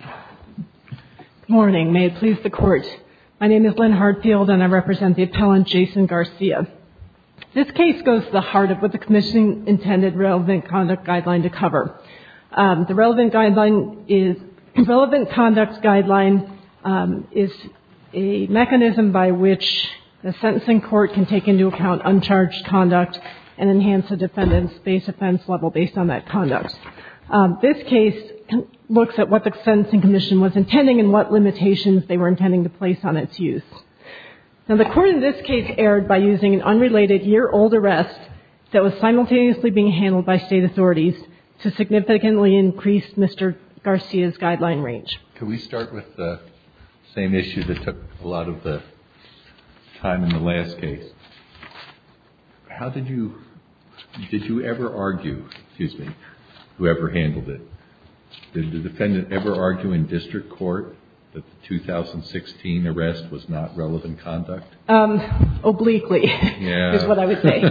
Good morning. May it please the Court. My name is Lynn Hardfield and I represent the appellant Jason Garcia. This case goes to the heart of what the commission intended relevant conduct guideline to cover. The relevant conduct guideline is a mechanism by which the sentencing court can take into account uncharged conduct and enhance the defendant's base offense level based on that conduct. This case looks at what the sentencing commission was intending and what limitations they were intending to place on its use. Now, the court in this case erred by using an unrelated year-old arrest that was simultaneously being handled by state authorities to significantly increase Mr. Garcia's guideline range. Can we start with the same issue that took a lot of the time in the last case? How did you, did you ever argue, excuse me, whoever handled it, did the defendant ever argue in district court that the 2016 arrest was not relevant conduct? Um, obliquely is what I would say.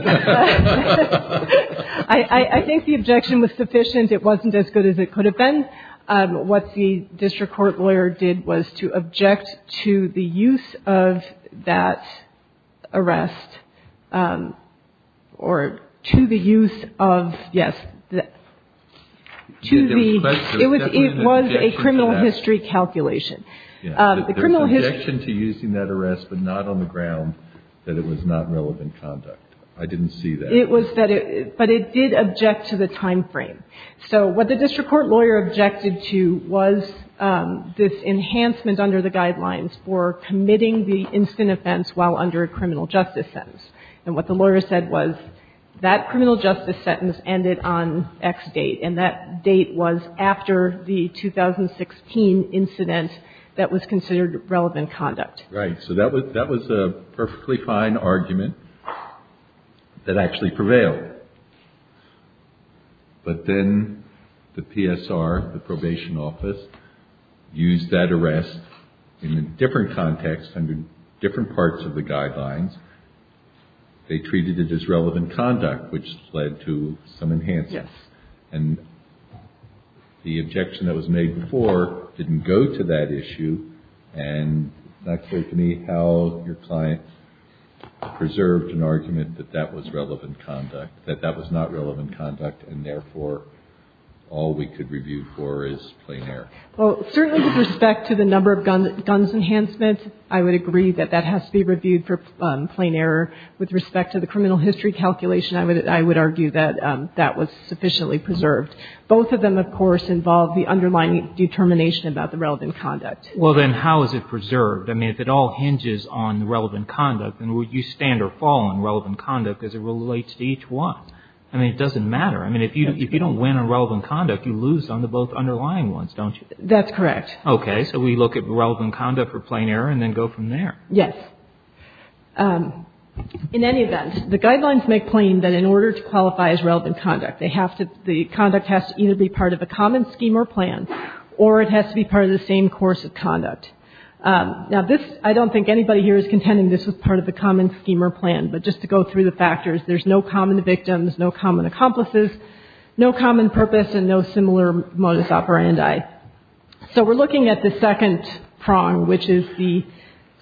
I think the objection was sufficient. It wasn't as good as it could have been. What the district court lawyer did was to object to the use of that arrest, um, or to the use of, yes, to the, it was, it was a criminal history calculation. Um, the criminal history. There was an objection to using that arrest, but not on the ground that it was not relevant conduct. I didn't see that. It was that it, but it did object to the timeframe. So what the district court lawyer objected to was, um, this enhancement under the guidelines for committing the instant offense while under a criminal justice sentence. And what the lawyer said was that criminal justice sentence ended on X date. And that date was after the 2016 incident that was considered relevant conduct. Right. So that was, that was a perfectly fine argument that actually prevailed. Right. But then the PSR, the probation office used that arrest in a different context under different parts of the guidelines. They treated it as relevant conduct, which led to some enhancements. And the objection that was made before didn't go to that issue. And not clear to me how your client preserved an argument that that was relevant conduct, that that was not relevant conduct. And therefore, all we could review for is plain error. Well, certainly with respect to the number of guns, guns enhancement, I would agree that that has to be reviewed for plain error. With respect to the criminal history calculation, I would, I would argue that, um, that was sufficiently preserved. Both of them, of course, involve the underlying determination about the relevant conduct. Well, then how is it preserved? I mean, if it all hinges on the relevant conduct, then would you stand or fall on relevant conduct as it relates to each one? I mean, it doesn't matter. I mean, if you, if you don't win on relevant conduct, you lose on the both underlying ones, don't you? That's correct. Okay. So we look at relevant conduct for plain error and then go from there. Yes. Um, in any event, the guidelines make plain that in order to qualify as relevant conduct, they have to, the conduct has to either be part of a common scheme or plan, or it has to be part of the same course of conduct. Um, now this, I don't think anybody here is contending this was part of the common scheme or plan, but just to go through the factors, there's no common victims, no common accomplices, no common purpose and no similar modus operandi. So we're looking at the second prong, which is the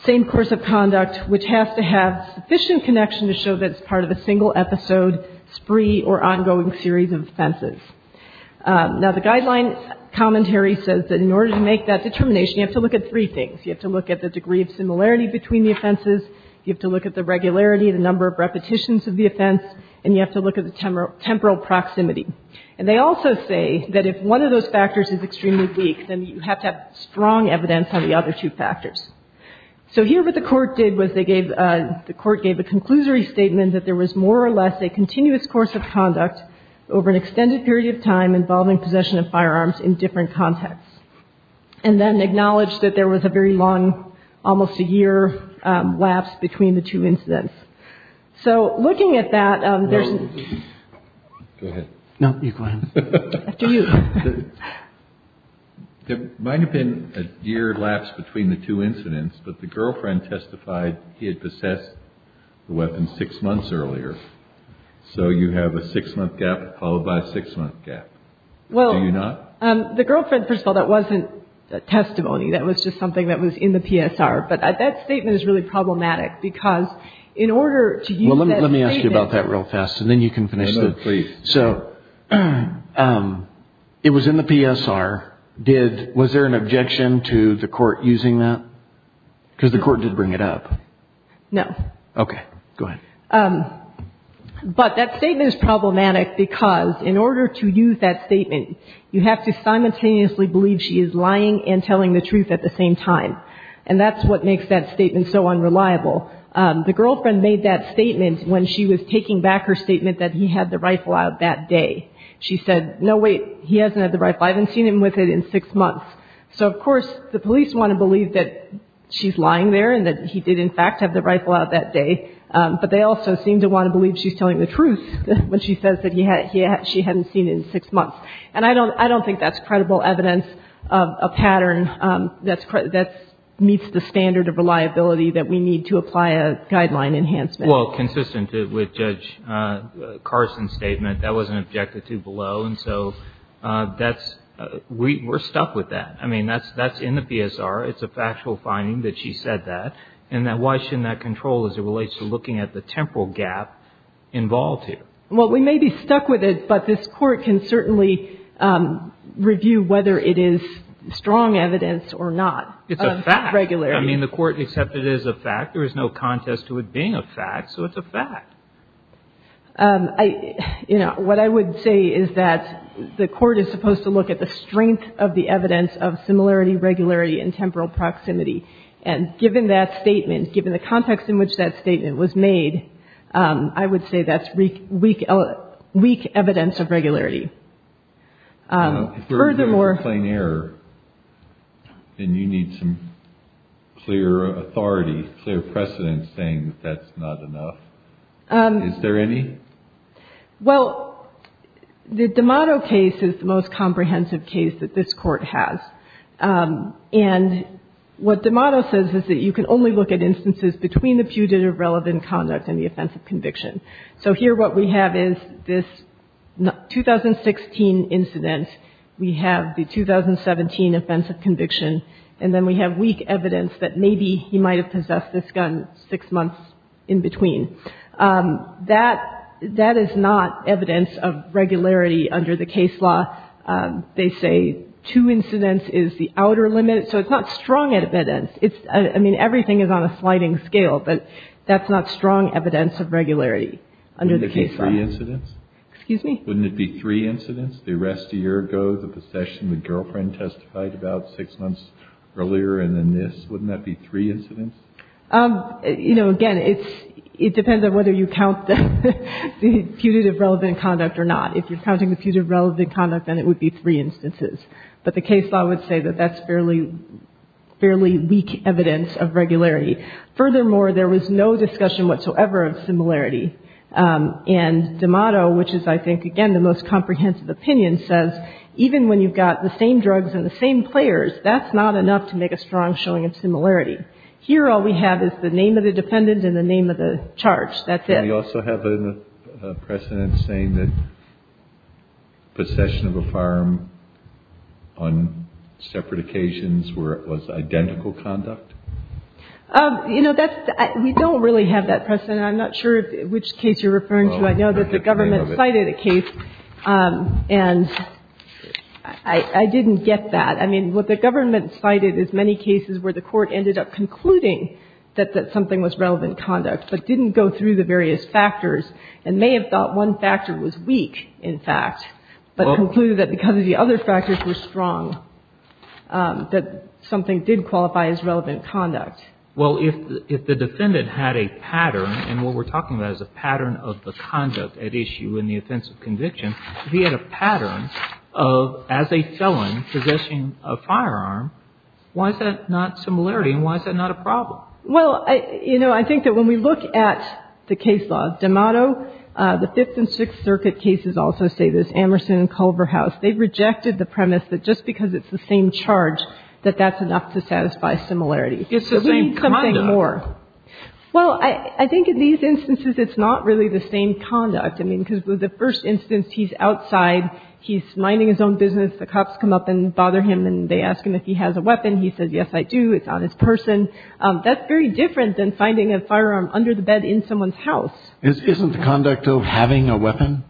same course of conduct, which has to have sufficient connection to show that it's part of a single episode, spree or ongoing series of offenses. Um, now the guideline commentary says that in order to make that determination, you have to look at three things. You have to look at the degree of similarity between the offenses, you have to look at the regularity, the number of repetitions of the offense, and you have to look at the temporal, temporal proximity. And they also say that if one of those factors is extremely weak, then you have to have strong evidence on the other two factors. So here what the Court did was they gave, uh, the Court gave a conclusory statement that there was more or less a continuous course of conduct over an extended period of time involving possession of firearms in different contexts. And then acknowledged that there was a very long, almost a year, um, lapse between the two incidents. So looking at that, um, there's no, you go ahead, after you. There might have been a year lapse between the two incidents, but the girlfriend testified he had possessed the weapon six months earlier. So you have a six month gap followed by a six month gap. Do you not? Well, um, the girlfriend, first of all, that wasn't testimony. That was just something that was in the PSR. But that statement is really problematic, because in order to use that statement. Well, let me ask you about that real fast, and then you can finish the, so, um, it was in the PSR. Did, was there an objection to the Court using that? Because the Court did bring it up. No. Okay. Go ahead. Um, but that statement is problematic, because in order to use that statement, you have to simultaneously believe she is lying and telling the truth at the same time. And that's what makes that statement so unreliable. Um, the girlfriend made that statement when she was taking back her statement that he had the rifle out that day. She said, no, wait, he hasn't had the rifle. I haven't seen him with it in six months. So, of course, the police want to believe that she's lying there and that he did, in fact, have the rifle out that day. Um, but they also seem to want to believe she's telling the truth when she says that he had, she hadn't seen it in six months. And I don't, I don't think that's credible evidence of a pattern, um, that's, that meets the standard of reliability that we need to apply a guideline enhancement. Well, consistent with Judge Carson's statement, that was an objective too below. And so, uh, that's, we, we're stuck with that. I mean, that's, that's in the PSR. It's a factual finding that she said that. And that, why shouldn't that control as it relates to looking at the temporal gap involved here? Well, we may be stuck with it, but this Court can certainly, um, review whether it is strong evidence or not of regularity. It's a fact. I mean, the Court accepted it as a fact. There is no contest to it being a fact, so it's a fact. Um, I, you know, what I would say is that the Court is supposed to look at the strength of the evidence of similarity, regularity, and temporal proximity. And given that statement, given the context in which that statement was made, um, I would say that's weak, weak, weak evidence of regularity. Um, furthermore... If you're reviewing a plain error, then you need some clear authority, clear precedent saying that that's not enough. Is there any? Well, the D'Amato case is the most comprehensive case that this Court has. Um, and what D'Amato says is that you can only look at instances between the fugitive relevant conduct and the offensive conviction. So here what we have is this 2016 incident. We have the 2017 offensive conviction. And then we have weak evidence that maybe he might have possessed this gun six months in between. Um, that, that is not evidence of regularity under the case law. Um, they say two incidents is the outer limit, so it's not strong evidence. It's, I mean, everything is on a sliding scale, but that's not strong evidence of regularity under the case law. Wouldn't it be three incidents? Excuse me? Wouldn't it be three incidents? The arrest a year ago, the possession, the girlfriend testified about six months earlier, and then this. Wouldn't that be three incidents? Um, you know, again, it's, it depends on whether you count the fugitive relevant conduct or not. If you're counting the fugitive relevant conduct, then it would be three instances. But the case law would say that that's fairly, fairly weak evidence of regularity. Furthermore, there was no discussion whatsoever of similarity. Um, and D'Amato, which is, I think, again, the most comprehensive opinion, says even when you've got the same drugs and the same players, that's not enough to make a strong showing of similarity. Here, all we have is the name of the defendant and the name of the charge. That's it. Do we also have a precedent saying that possession of a farm on separate occasions were, was identical conduct? Um, you know, that's, we don't really have that precedent. I'm not sure which case you're referring to. I know that the government cited a case, um, and I, I didn't get that. I mean, what the government cited is many cases where the court ended up concluding that, that something was relevant conduct, but didn't go through the various factors, and may have thought one factor was weak, in fact, but concluded that because the other factors were strong, um, that something did qualify as relevant conduct. Well, if, if the defendant had a pattern, and what we're talking about is a pattern of the conduct at issue in the offensive conviction, if he had a pattern of, as a felon possessing a firearm, why is that not similarity, and why is that not a problem? Well, I, you know, I think that when we look at the case law of D'Amato, uh, the Fifth and Sixth Circuit cases also say this, Amerson and Culverhouse. They rejected the premise that just because it's the same charge, that that's enough to satisfy similarity. It's the same conduct. So we need something more. Well, I, I think in these instances, it's not really the same conduct. I mean, because with the first instance, he's outside, he's minding his own business, the cops come up and bother him, and they ask him if he has a weapon. He says, yes, I do. It's on his person. Um, that's very different than finding a firearm under the bed in someone's house. Isn't the conduct of having a weapon?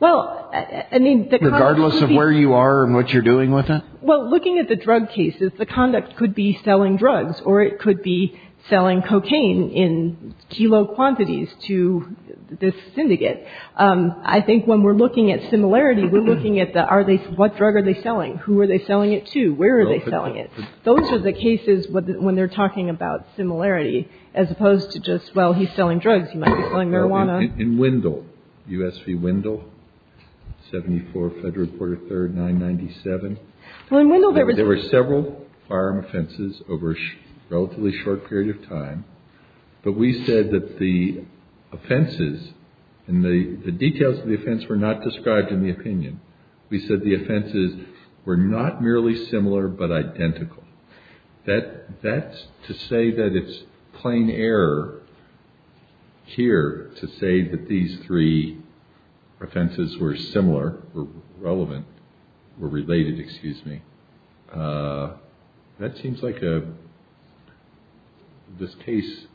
Well, I mean, regardless of where you are and what you're doing with it. Well, looking at the drug cases, the conduct could be selling drugs, or it could be selling cocaine in kilo quantities to this syndicate. Um, I think when we're looking at similarity, we're looking at the, are they, what drug are they selling? Who are they selling it to? Where are they selling it? Those are the cases when they're talking about similarity, as opposed to just, well, he's selling drugs, he might be selling marijuana. In Wendell, U.S. v. Wendell, 74, Federal Court of Third, 997. Well, in Wendell, there was. There were several firearm offenses over a relatively short period of time, but we said that the offenses, and the details of the offense were not described in the opinion. We said the offenses were not merely similar, but identical. That, that's to say that it's plain error here to say that these three offenses were similar, were relevant, were related, excuse me. Uh, that seems like a, this case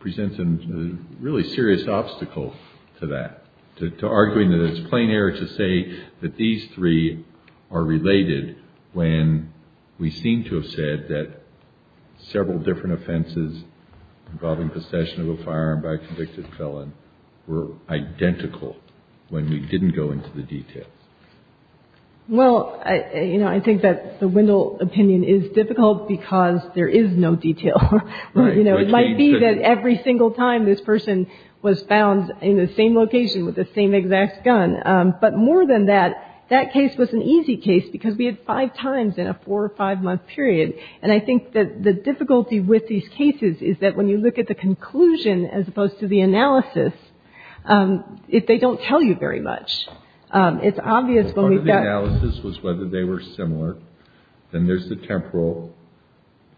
presents a really serious obstacle to that, to arguing that it's plain error to say that these three are related when we seem to have said that several different offenses involving possession of a firearm by a convicted felon were identical when we didn't go into the details. Well, you know, I think that the Wendell opinion is difficult because there is no detail. Right. You know, it might be that every single time this person was found in the same location with the same exact gun. But more than that, that case was an easy case because we had five times in a four or five-month period. And I think that the difficulty with these cases is that when you look at the conclusion as opposed to the analysis, if they don't tell you very much, it's obvious that Part of the analysis was whether they were similar. Then there's the temporal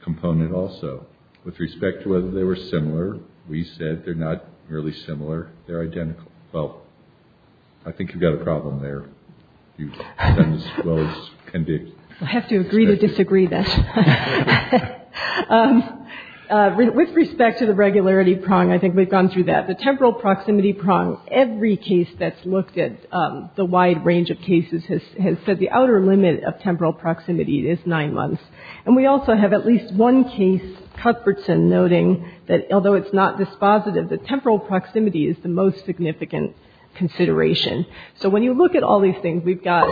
component also. With respect to whether they were similar, we said they're not really similar. They're identical. Well, I think you've got a problem there. You've done as well as you can do. I have to agree to disagree then. With respect to the regularity prong, I think we've gone through that. The temporal proximity prong, every case that's looked at, the wide range of cases, has said the outer limit of temporal proximity is nine months. And we also have at least one case, Cuthbertson, noting that although it's not dispositive, the temporal proximity is the most significant consideration. So when you look at all these things, we've got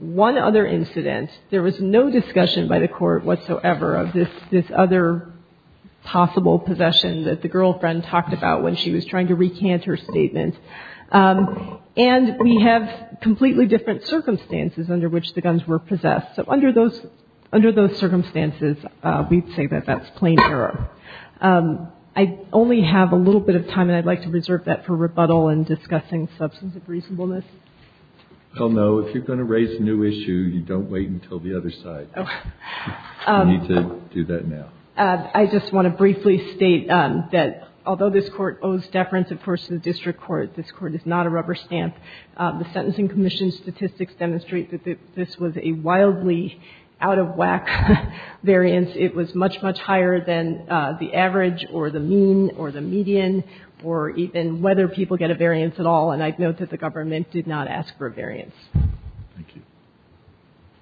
one other incident. There was no discussion by the Court whatsoever of this other possible possession that the girlfriend talked about when she was trying to recant her statement. And we have completely different circumstances under which the guns were possessed. So under those circumstances, we'd say that that's plain error. I only have a little bit of time, and I'd like to reserve that for rebuttal and discussing substance of reasonableness. Well, no, if you're going to raise a new issue, you don't wait until the other side. You need to do that now. I just want to briefly state that although this Court owes deference, of course, to the district court, this Court is not a rubber stamp. The Sentencing Commission statistics demonstrate that this was a wildly out-of-whack variance. It was much, much higher than the average or the mean or the median or even whether people get a variance at all. And I'd note that the government did not ask for a variance. Thank you.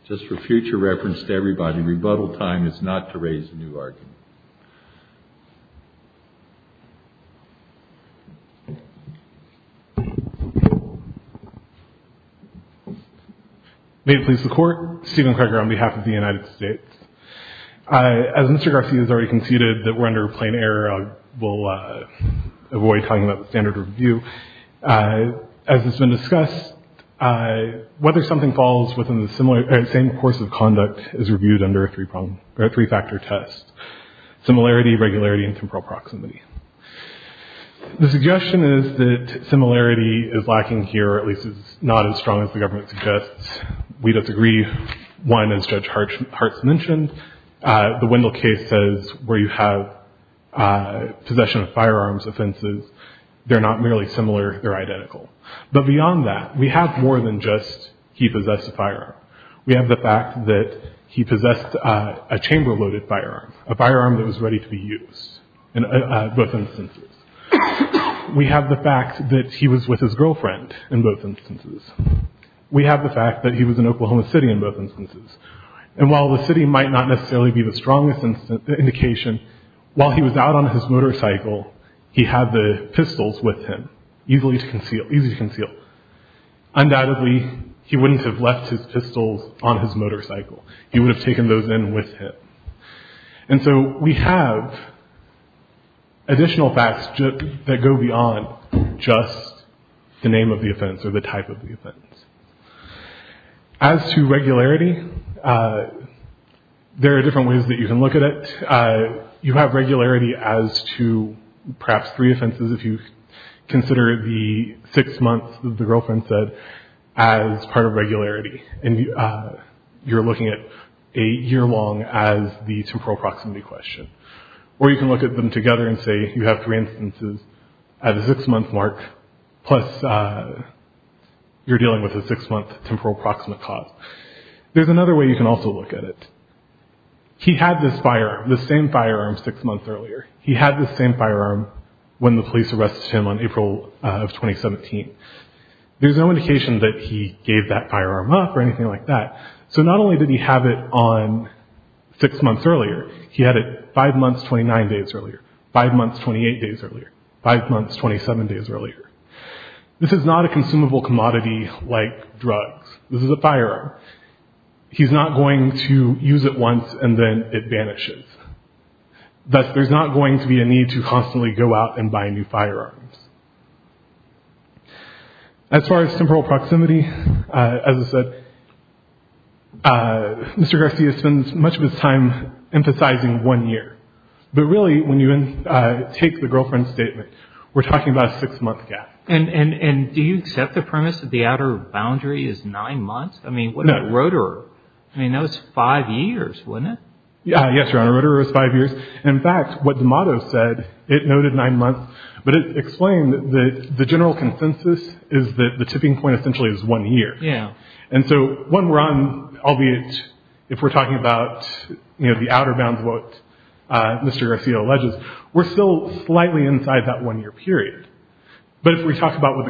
Just for future reference to everybody, rebuttal time is not to raise a new argument. May it please the Court, Stephen Kreger on behalf of the United States. As Mr. Garcia has already conceded that we're under plain error, we'll avoid talking about the standard review. As has been discussed, whether something falls within the same course of conduct is reviewed under a three-factor test, similarity, regularity, and temporal proximity. The suggestion is that similarity is lacking here, or at least it's not as strong as the government suggests. We disagree. One, as Judge Hartz mentioned, the Wendell case says where you have possession of firearms offenses, they're not merely similar, they're identical. But beyond that, we have more than just he possessed a firearm. We have the fact that he possessed a chamber-loaded firearm, a firearm that was ready to be used in both instances. We have the fact that he was with his girlfriend in both instances. We have the fact that he was in Oklahoma City in both instances. And while the city might not necessarily be the strongest indication, while he was out on his motorcycle, he had the pistols with him, easy to conceal. Undoubtedly, he wouldn't have left his pistols on his motorcycle. He would have taken those in with him. And so we have additional facts that go beyond just the name of the offense or the type of the offense. As to regularity, there are different ways that you can look at it. You have regularity as to perhaps three offenses if you consider the six months that the girlfriend said as part of regularity. And you're looking at a year-long as the temporal proximity question. Or you can look at them together and say you have three instances at a six-month mark, plus you're dealing with a six-month temporal proximate cause. There's another way you can also look at it. He had this firearm, the same firearm six months earlier. He had the same firearm when the police arrested him on April of 2017. There's no indication that he gave that firearm up or anything like that. So not only did he have it on six months earlier, he had it five months, 29 days earlier, five months, 28 days earlier, five months, 27 days earlier. This is not a consumable commodity like drugs. This is a firearm. He's not going to use it once and then it vanishes. Thus, there's not going to be a need to constantly go out and buy new firearms. As far as temporal proximity, as I said, Mr. Garcia spends much of his time emphasizing one year. But really, when you take the girlfriend's statement, we're talking about a six-month gap. And do you accept the premise that the outer boundary is nine months? I mean, what about Rotor? I mean, that was five years, wasn't it? Yes, Your Honor, Rotor was five years. In fact, what the motto said, it noted nine months, but it explained that the general consensus is that the tipping point essentially is one year. And so when we're on, albeit if we're talking about the outer bounds, what Mr. Garcia alleges, we're still slightly inside that one-year period. But if we talk about what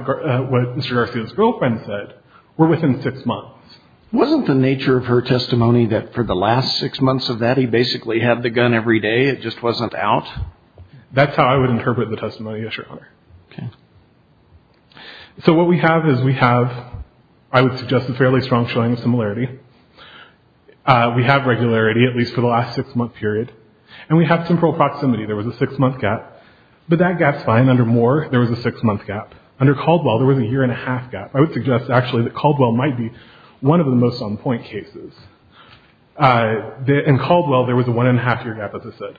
Mr. Garcia's girlfriend said, we're within six months. Wasn't the nature of her testimony that for the last six months of that, he basically had the gun every day, it just wasn't out? That's how I would interpret the testimony, yes, Your Honor. Okay. So what we have is we have, I would suggest, a fairly strong showing of similarity. We have regularity, at least for the last six-month period. And we have temporal proximity. There was a six-month gap. But that gap's fine. Under Moore, there was a six-month gap. Under Caldwell, there was a year-and-a-half gap. I would suggest, actually, that Caldwell might be one of the most on-point cases. In Caldwell, there was a one-and-a-half-year gap, as I said.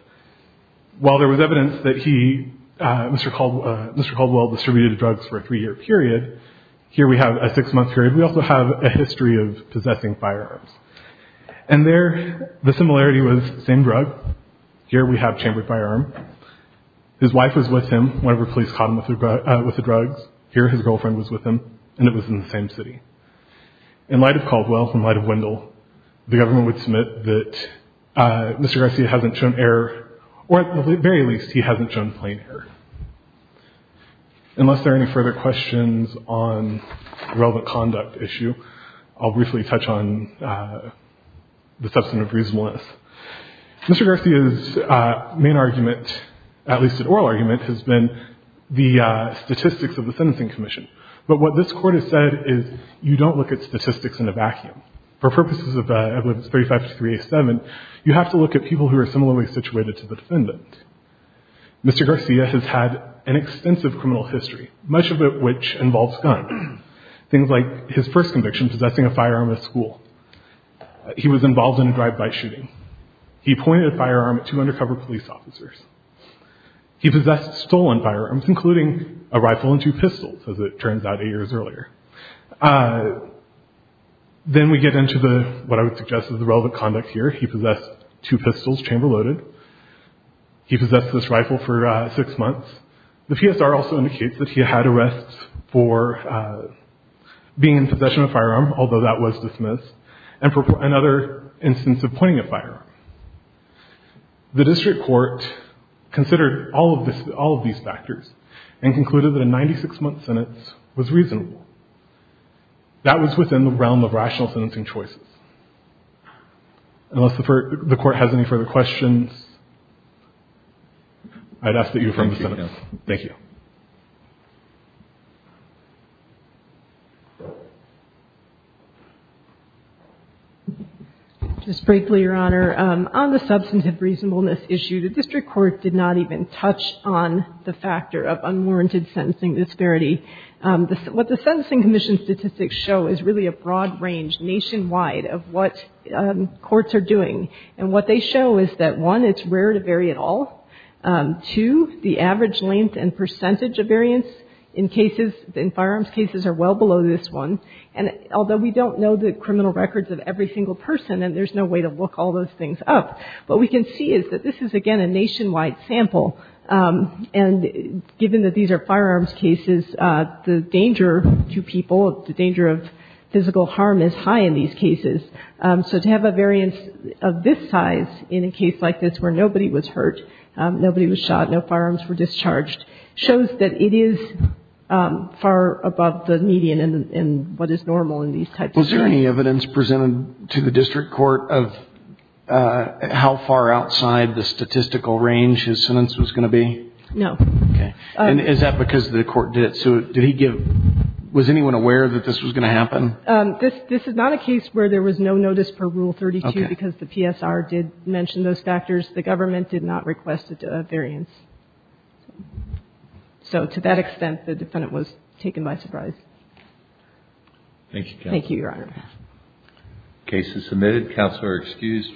While there was evidence that he, Mr. Caldwell, distributed drugs for a three-year period, here we have a six-month period. We also have a history of possessing firearms. And there, the similarity was the same drug. Here we have chambered firearm. His wife was with him whenever police caught him with the drugs. Here, his girlfriend was with him. And it was in the same city. In light of Caldwell, in light of Wendell, the government would submit that Mr. Garcia hasn't shown error, or at the very least, he hasn't shown plain error. Unless there are any further questions on the relevant conduct issue, I'll briefly touch on the substance of reasonableness. Mr. Garcia's main argument, at least an oral argument, has been the statistics of the Sentencing Commission, but what this court has said is, you don't look at statistics in a vacuum. For purposes of evidence 35-387, you have to look at people who are similarly situated to the defendant. Mr. Garcia has had an extensive criminal history, much of it which involves gun. Things like his first conviction, possessing a firearm at school. He was involved in a drive-by shooting. He pointed a firearm at two undercover police officers. He possessed stolen firearms, including a rifle and two pistols, as it turns out, eight years earlier. Then we get into what I would suggest is the relevant conduct here. He possessed two pistols, chamber-loaded. He possessed this rifle for six months. The PSR also indicates that he had arrests for being in possession of a firearm, The district court considered all of these factors and concluded that a 96-month sentence was reasonable. That was within the realm of rational sentencing choices. Unless the court has any further questions, I'd ask that you affirm the sentence. Thank you. Just briefly, Your Honor, on the substantive reasonableness issue, the district court did not even touch on the factor of unwarranted sentencing disparity. What the Sentencing Commission statistics show is really a broad range nationwide of what courts are doing, and what they show is that, one, it's rare to vary at all. Two, the average length and percentage of variance in cases, in firearms cases, are well below this one. And although we don't know the criminal records of every single person, and there's no way to look all those things up, what we can see is that this is, again, a nationwide sample. And given that these are firearms cases, the danger to people, the danger of physical harm is high in these cases. So to have a variance of this size in a case like this, where nobody was hurt, nobody was shot, no firearms were discharged, shows that it is far above the median in what is normal in these types of cases. Was there any evidence presented to the district court of how far outside the statistical range his sentence was going to be? No. Okay. And is that because the court did it? So did he give, was anyone aware that this was going to happen? This is not a case where there was no notice per rule 32, because the PSR did mention those factors. The government did not request a variance. So to that extent, the defendant was taken by surprise. Thank you, counsel. Thank you, Your Honor. Case is submitted. Counsel are excused.